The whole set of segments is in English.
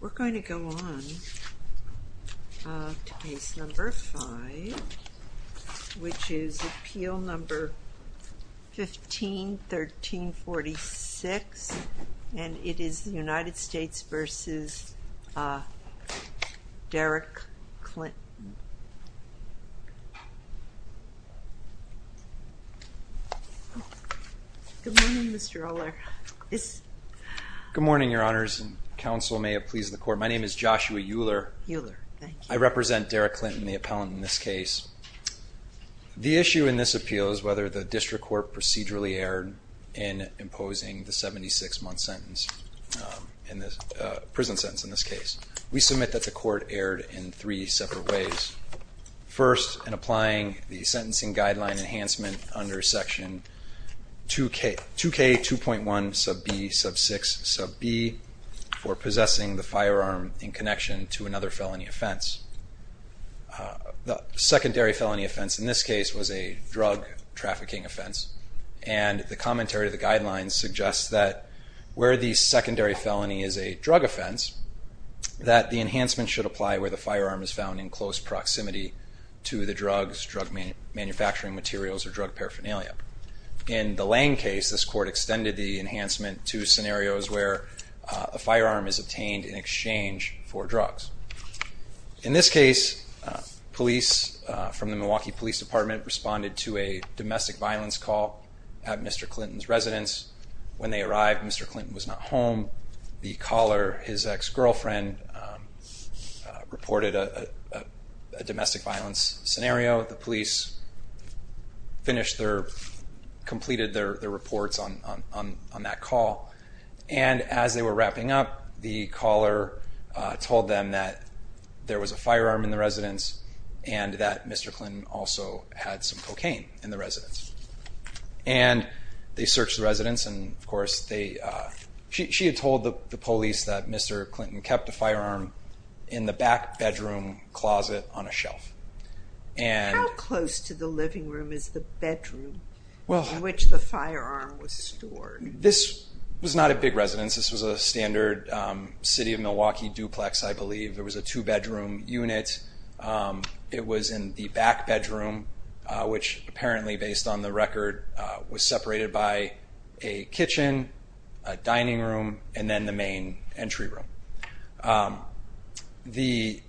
We're going to go on to case number five which is appeal number 15 1346 and it is the United States v. Derrick Clinton Good morning, Mr. Ohler. Good morning, Your Honors, and counsel may it please the court. My name is Joshua Uhler. I represent Derrick Clinton, the appellant in this case. The issue in this appeal is whether the district court procedurally erred in imposing the 76-month sentence, prison sentence in this case. We submit that the court erred in three separate ways. First, in applying the sentencing guideline enhancement under section 2K 2.1 sub b sub 6 sub b for possessing the firearm in connection to another felony offense. The secondary felony offense in this case was a drug trafficking offense and the commentary of the guidelines suggests that where the secondary felony is a drug offense that the enhancement should apply where the firearm is found in close proximity to the drugs, drug manufacturing materials, or drug paraphernalia. In the Lang case, this court extended the enhancement to scenarios where a firearm is obtained in exchange for drugs. In this case, police from the Milwaukee Police Department responded to a domestic violence call at Mr. Clinton's residence. When they arrived, Mr. Clinton was not home. The caller, his ex-girlfriend, reported a domestic violence scenario. The police finished their, completed their reports on that call. And as they were wrapping up, the caller told them that there was a firearm in the residence and that Mr. Clinton also had some cocaine in the residence. And they searched the residence and of course they, she had told the police that Mr. Clinton kept the firearm in the back bedroom closet on a shelf. How close to the living room is the bedroom in which the firearm was stored? This was not a big residence. This was a standard city of Milwaukee duplex, I believe. There was a two bedroom unit. It was in the back bedroom, which apparently, based on the record, was separated by a kitchen, a dining room, and then the main entry room. The,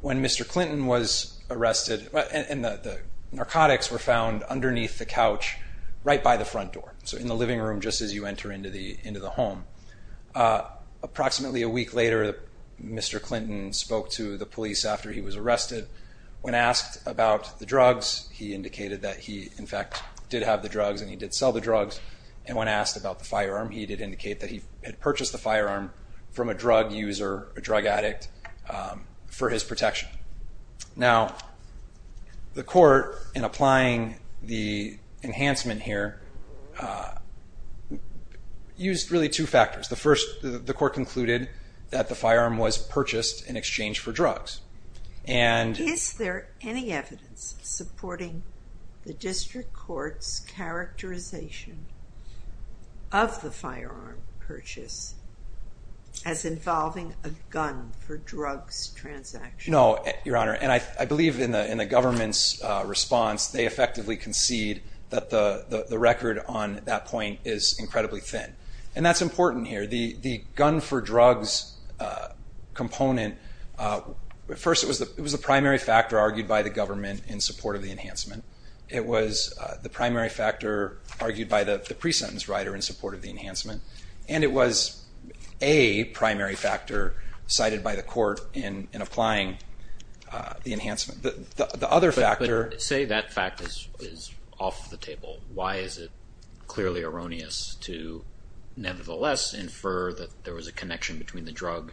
when Mr. Clinton was arrested, and the narcotics were found underneath the couch, right by the front door, so in the living room just as you enter into the home. Approximately a week later, Mr. Clinton spoke to the police after he was arrested. When asked about the drugs, he indicated that he, in fact, did have the drugs and he did sell the drugs. And when asked about the firearm, he did indicate that he had purchased the firearm from a drug user, a drug addict, for his protection. Now, the court, in applying the enhancement here, used really two factors. The first, the court concluded that the firearm was purchased in exchange for drugs. Is there any evidence supporting the district court's characterization of the firearm purchase as involving a gun for drugs transaction? No, Your Honor, and I believe in the government's response, they effectively concede that the record on that point is incredibly thin. And that's important here. The gun for drugs component, first, it was the primary factor argued by the government in support of the enhancement. It was the primary factor argued by the pre-sentence writer in support of the enhancement. And it was a primary factor cited by the court in applying the enhancement. But say that fact is off the table. Why is it clearly erroneous to nevertheless infer that there was a connection between the drugs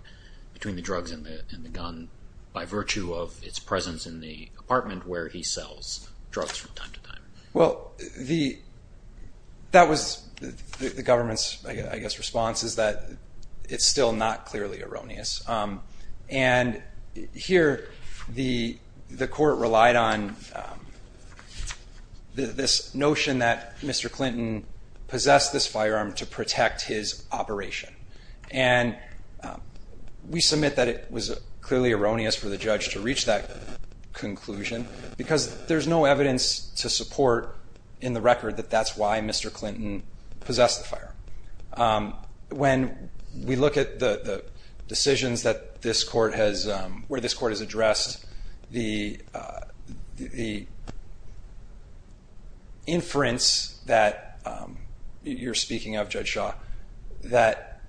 and the gun by virtue of its presence in the apartment where he sells drugs from time to time? Well, that was the government's, I guess, response is that it's still not clearly erroneous. And here the court relied on this notion that Mr. Clinton possessed this firearm to protect his operation. And we submit that it was clearly erroneous for the judge to reach that conclusion because there's no evidence to support in the record that that's why Mr. Clinton possessed the firearm. When we look at the decisions where this court has addressed the inference that you're speaking of, Judge Shaw, that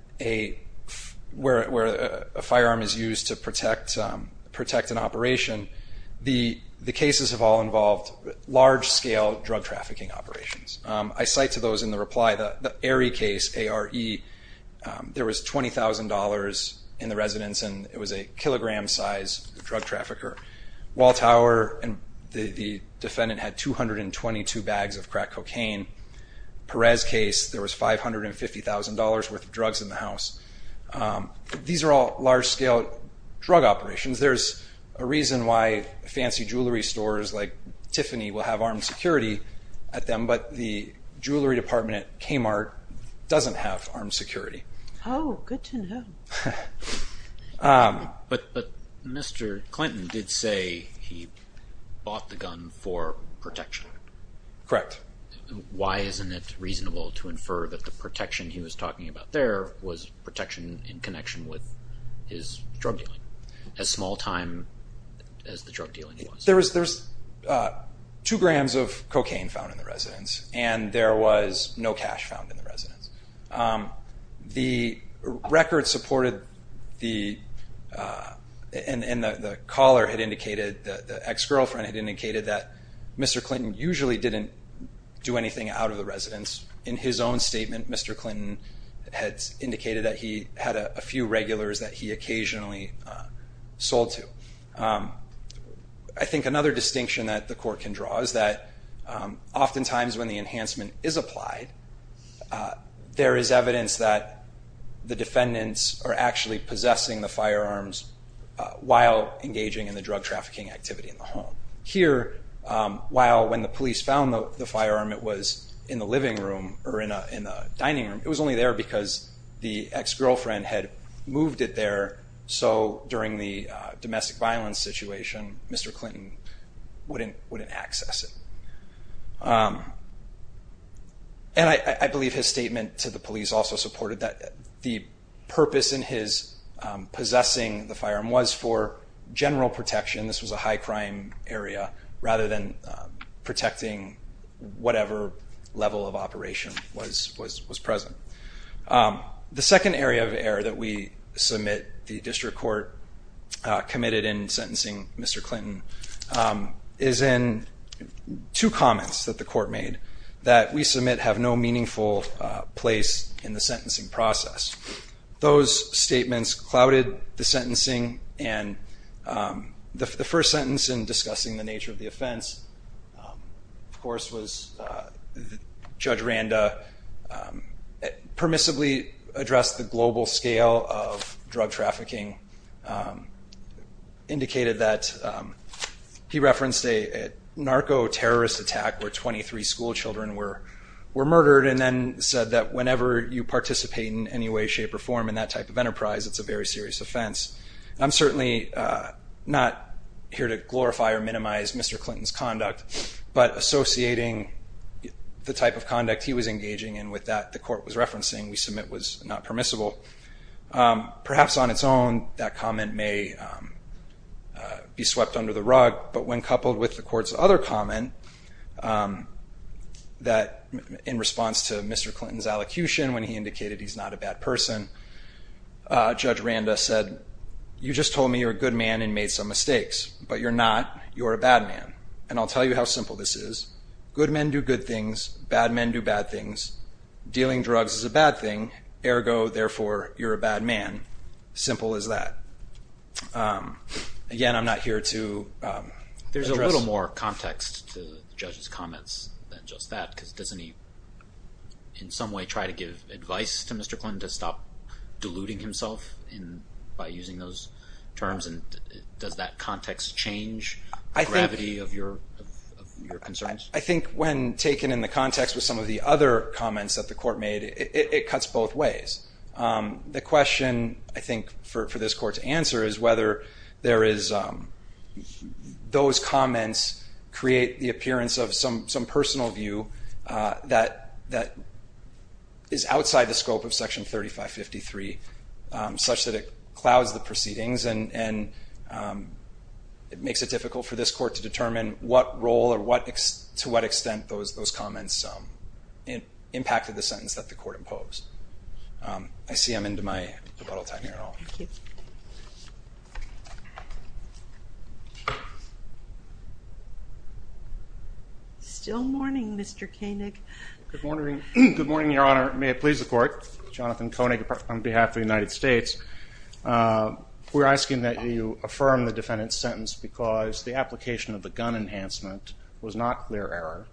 where a firearm is used to protect an operation, the cases have all involved large-scale drug trafficking operations. I cite to those in the reply the Aerie case, A-R-E. There was $20,000 in the residence, and it was a kilogram-size drug trafficker. Wall Tower, the defendant had 222 bags of crack cocaine. Perez case, there was $550,000 worth of drugs in the house. These are all large-scale drug operations. There's a reason why fancy jewelry stores like Tiffany will have armed security at them, but the jewelry department at Kmart doesn't have armed security. Oh, good to know. But Mr. Clinton did say he bought the gun for protection. Correct. Why isn't it reasonable to infer that the protection he was talking about there was protection in connection with his drug dealing, as small time as the drug dealing was? There was two grams of cocaine found in the residence, and there was no cash found in the residence. The record supported the, and the caller had indicated, the ex-girlfriend had indicated, that Mr. Clinton usually didn't do anything out of the residence. In his own statement, Mr. Clinton had indicated that he had a few regulars that he occasionally sold to. I think another distinction that the court can draw is that oftentimes when the enhancement is applied, there is evidence that the defendants are actually possessing the firearms while engaging in the drug trafficking activity in the home. Here, while when the police found the firearm, it was in the living room or in the dining room, it was only there because the ex-girlfriend had moved it there, so during the domestic violence situation, Mr. Clinton wouldn't access it. And I believe his statement to the police also supported that the purpose in his possessing the firearm was for general protection, this was a high crime area, rather than protecting whatever level of operation was present. The second area of error that we submit the district court committed in sentencing Mr. Clinton is in two comments that the court made that we submit have no meaningful place in the sentencing process. Those statements clouded the sentencing and the first sentence in discussing the nature of the offense, of course, was Judge Randa permissibly addressed the global scale of drug trafficking, indicated that he referenced a narco-terrorist attack where 23 school children were murdered and then said that whenever you participate in any way, shape, or form in that type of enterprise, it's a very serious offense. I'm certainly not here to glorify or minimize Mr. Clinton's conduct, but associating the type of conduct he was engaging in with that the court was referencing, we submit was not permissible. Perhaps on its own, that comment may be swept under the rug, but when coupled with the court's other comment that in response to Mr. Clinton's allocution when he indicated he's not a bad person, Judge Randa said, you just told me you're a good man and made some mistakes, but you're not. You're a bad man. And I'll tell you how simple this is. Good men do good things. Bad men do bad things. Dealing drugs is a bad thing. Ergo, therefore, you're a bad man. Simple as that. Again, I'm not here to address. There's a little more context to the judge's comments than just that, because doesn't he in some way try to give advice to Mr. Clinton to stop deluding himself by using those terms? And does that context change the gravity of your concerns? I think when taken in the context with some of the other comments that the court made, it cuts both ways. The question, I think, for this court to answer is whether there is those comments create the appearance of some personal view that is outside the scope of Section 3553, such that it clouds the proceedings and it makes it difficult for this court to determine what role or to what extent those comments impacted the sentence that the court imposed. I see I'm into my rebuttal time here. Thank you. Still mourning, Mr. Koenig. Good morning, Your Honor. May it please the Court. Jonathan Koenig on behalf of the United States. We're asking that you affirm the defendant's sentence because the application of the gun enhancement was not clear error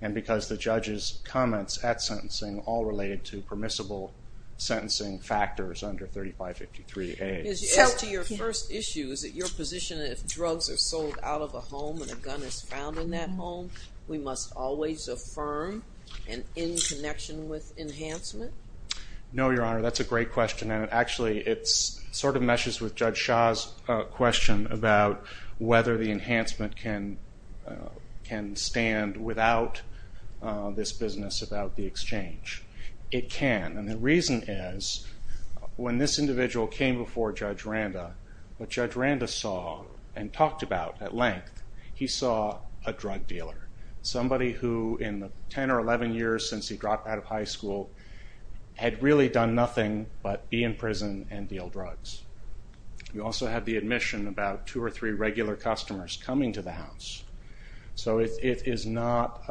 and because the judge's comments at sentencing all related to permissible sentencing factors under 3553A. As to your first issue, is it your position that if drugs are sold out of a home and a gun is found in that home, we must always affirm and in connection with enhancement? No, Your Honor. That's a great question. Actually, it sort of meshes with Judge Shah's question about whether the enhancement can stand without this business about the exchange. It can. The reason is when this individual came before Judge Randa, what Judge Randa saw and talked about at length, he saw a drug dealer, somebody who in the 10 or 11 years since he dropped out of high school had really done nothing but be in prison and deal drugs. He also had the admission about two or three regular customers coming to the house. So it is not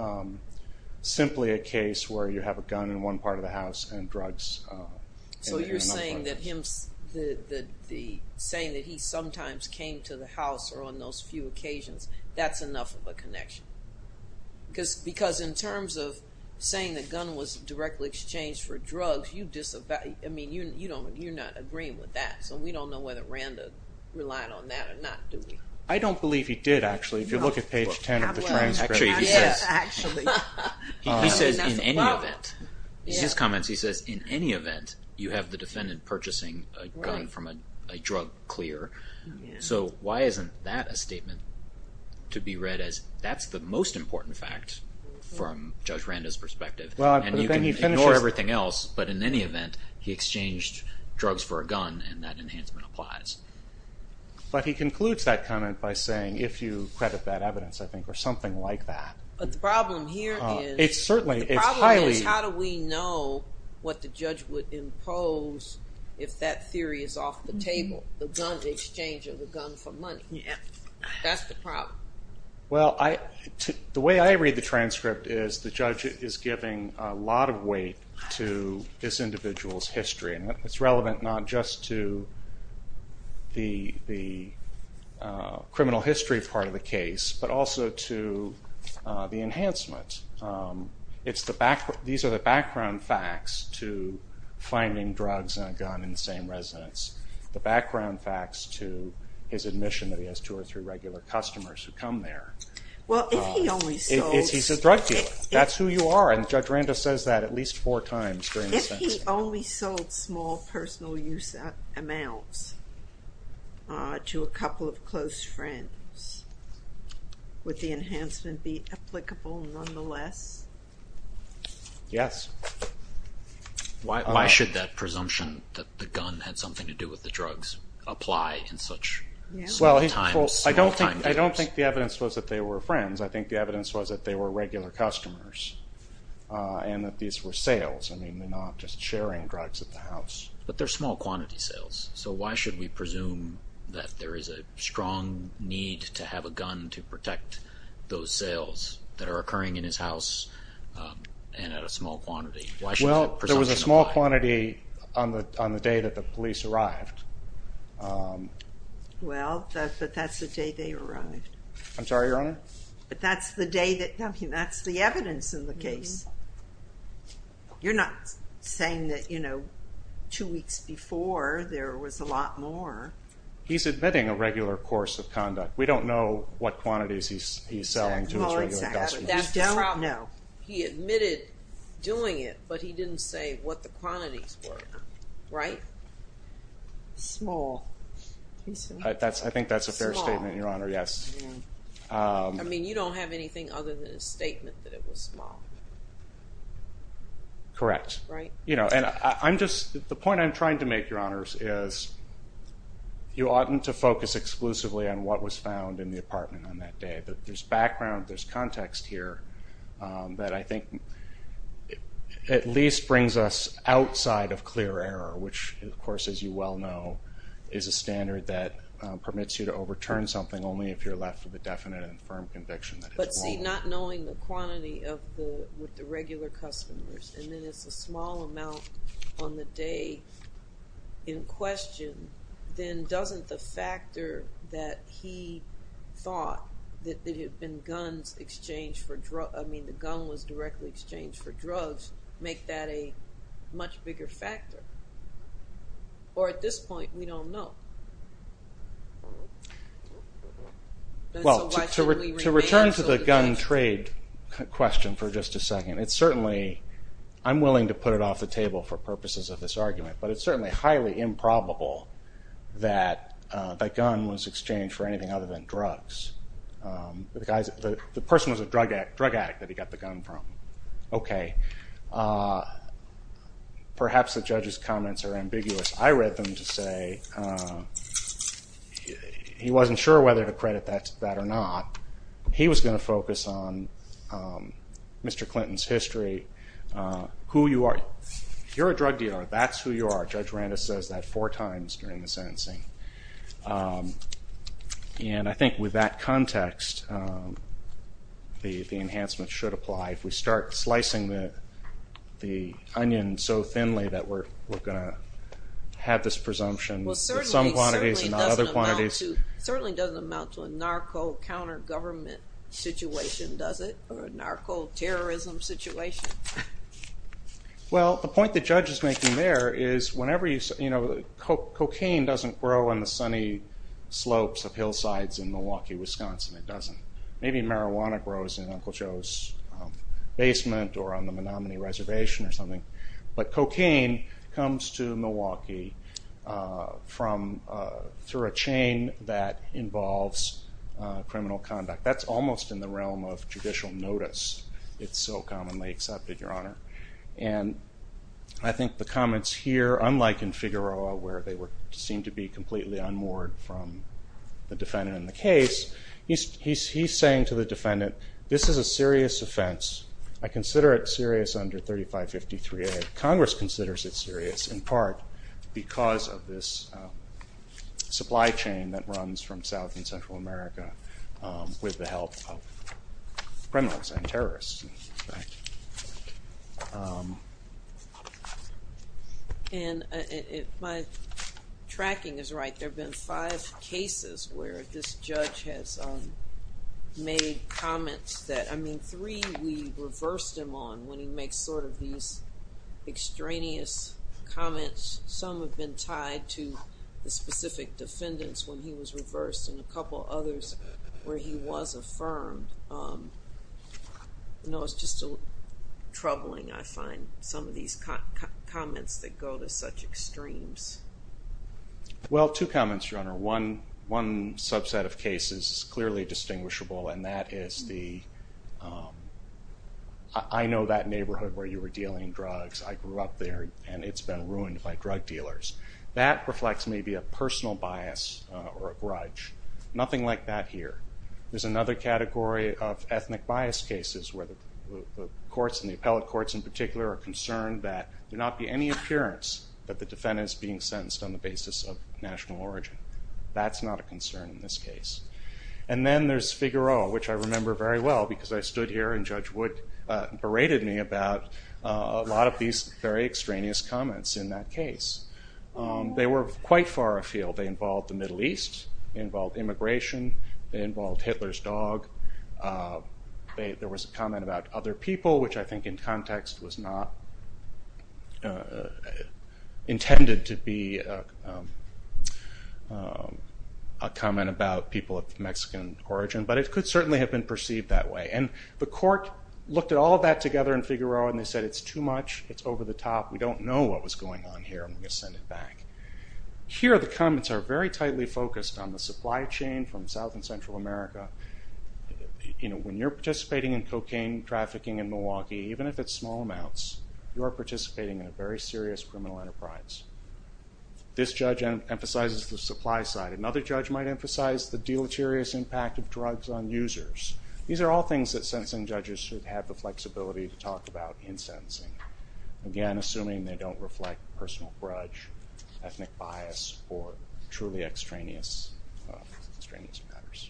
simply a case where you have a gun in one part of the house and drugs in another part of the house. So you're saying that he sometimes came to the house or on those few occasions. That's enough of a connection. Because in terms of saying the gun was directly exchanged for drugs, you're not agreeing with that. So we don't know whether Randa relied on that or not, do we? I don't believe he did, actually. If you look at page 10 of the transcript. Actually, he says in any event. In his comments, he says in any event, you have the defendant purchasing a gun from a drug clear. So why isn't that a statement to be read as that's the most important fact from Judge Randa's perspective. And you can ignore everything else. But in any event, he exchanged drugs for a gun and that enhancement applies. But he concludes that comment by saying, if you credit that evidence, I think, or something like that. But the problem here is how do we know what the judge would impose if that theory is off the table? The exchange of the gun for money. That's the problem. Well, the way I read the transcript is the judge is giving a lot of weight to this individual's history. And it's relevant not just to the criminal history part of the case, but also to the enhancement. These are the background facts to finding drugs in a gun in the same residence. The background facts to his admission that he has two or three regular customers who come there. He's a drug dealer. That's who you are. And Judge Randa says that at least four times during the sentencing. If he only sold small personal use amounts to a couple of close friends, would the enhancement be applicable nonetheless? Yes. Why should that presumption that the gun had something to do with the drugs apply in such small times? I don't think the evidence was that they were friends. I think the evidence was that they were regular customers and that these were sales. I mean, they're not just sharing drugs at the house. But they're small quantity sales. So why should we presume that there is a strong need to have a gun to protect those sales that are occurring in his house and at a small quantity? Well, there was a small quantity on the day that the police arrived. Well, but that's the day they arrived. I'm sorry, Your Honor? But that's the evidence in the case. You're not saying that, you know, two weeks before there was a lot more. He's admitting a regular course of conduct. We don't know what quantities he's selling to his regular customers. That's the problem. He admitted doing it, but he didn't say what the quantities were, right? Small. I think that's a fair statement, Your Honor, yes. I mean, you don't have anything other than a statement that it was small. Correct. Right? You know, and I'm just the point I'm trying to make, Your Honors, is you oughtn't to focus exclusively on what was found in the apartment on that day. There's background, there's context here that I think at least brings us outside of clear error, which, of course, as you well know, is a standard that permits you to overturn something only if you're left with a definite and firm conviction that it's small. But see, not knowing the quantity with the regular customers, and then it's a small amount on the day in question, then doesn't the factor that he thought that it had been guns exchanged for drugs, I mean the gun was directly exchanged for drugs, make that a much bigger factor? Or at this point, we don't know. Well, to return to the gun trade question for just a second, it's certainly, I'm willing to put it off the table for purposes of this argument, but it's certainly highly improbable that the gun was exchanged for anything other than drugs. The person was a drug addict that he got the gun from. Okay. Perhaps the judge's comments are ambiguous. I read them to say he wasn't sure whether to credit that or not. You're a drug dealer. That's who you are. Judge Randis says that four times during the sentencing. And I think with that context, the enhancement should apply. If we start slicing the onion so thinly that we're going to have this presumption, with some quantities and not other quantities. It certainly doesn't amount to a narco-countergovernment situation, does it? A narco-terrorism situation. Well, the point the judge is making there is, cocaine doesn't grow on the sunny slopes of hillsides in Milwaukee, Wisconsin. It doesn't. Maybe marijuana grows in Uncle Joe's basement or on the Menominee Reservation or something. But cocaine comes to Milwaukee through a chain that involves criminal conduct. That's almost in the realm of judicial notice. It's so commonly accepted, Your Honor. And I think the comments here, unlike in Figueroa, where they seem to be completely unmoored from the defendant in the case, he's saying to the defendant, this is a serious offense. I consider it serious under 3553A. Congress considers it serious in part because of this supply chain that runs from Central America with the help of criminals and terrorists. And my tracking is right. There have been five cases where this judge has made comments that, I mean, three we reversed him on when he makes sort of these extraneous comments. Some have been tied to the specific defendants when he was reversed and a couple others where he was affirmed. You know, it's just troubling, I find, some of these comments that go to such extremes. Well, two comments, Your Honor. One subset of cases is clearly distinguishable, and that is the, I know that neighborhood where you were dealing drugs. I grew up there, and it's been ruined by drug dealers. That reflects maybe a personal bias or a grudge. Nothing like that here. There's another category of ethnic bias cases where the courts and the appellate courts in particular are concerned that there not be any appearance that the defendant is being sentenced on the basis of national origin. That's not a concern in this case. And then there's Figueroa, which I remember very well because I stood here and Judge Wood berated me about a lot of these very extraneous comments in that case. They were quite far afield. They involved the Middle East. They involved immigration. They involved Hitler's dog. There was a comment about other people, which I think in context was not intended to be a comment about people of Mexican origin, but it could certainly have been perceived that way. And the court looked at all of that together in Figueroa, and they said it's too much. It's over the top. We don't know what was going on here. I'm going to send it back. Here the comments are very tightly focused on the supply chain from South and Central America. When you're participating in cocaine trafficking in Milwaukee, even if it's small amounts, you are participating in a very serious criminal enterprise. This judge emphasizes the supply side. Another judge might emphasize the deleterious impact of drugs on users. These are all things that sentencing judges should have the flexibility to talk about in sentencing, again, assuming they don't reflect personal grudge, ethnic bias, or truly extraneous matters.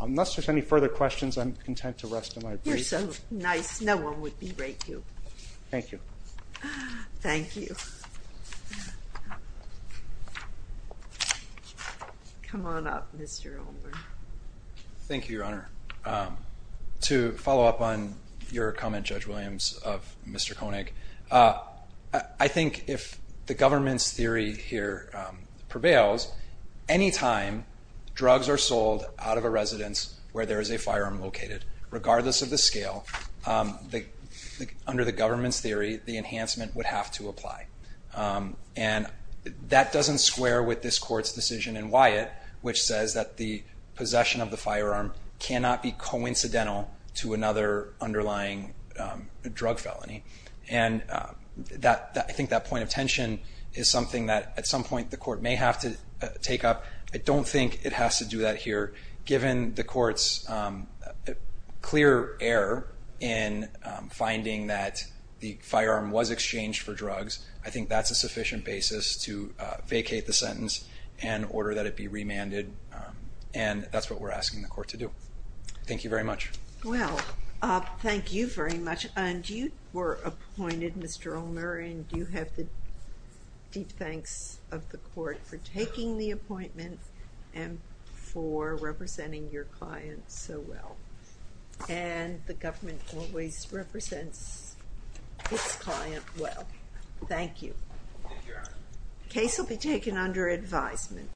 Unless there's any further questions, I'm content to rest in my brief. You're so nice. No one would berate you. Thank you. Thank you. Come on up, Mr. Ulmer. Thank you, Your Honor. To follow up on your comment, Judge Williams, of Mr. Koenig, I think if the government's theory here prevails, any time drugs are sold out of a residence where there is a firearm located, regardless of the scale, under the government's theory, the enhancement would have to apply. And that doesn't square with this Court's decision in Wyatt, which says that the possession of the firearm cannot be coincidental to another underlying drug felony. And I think that point of tension is something that at some point the Court may have to take up. I don't think it has to do that here. Given the Court's clear error in finding that the firearm was exchanged for drugs, I think that's a sufficient basis to vacate the sentence and order that it be remanded. And that's what we're asking the Court to do. Thank you very much. Well, thank you very much. And you were appointed, Mr. Ulmer, and you have the deep thanks of the Court for taking the appointment and for representing your client so well. And the government always represents its client well. Thank you. The case will be taken under advisement.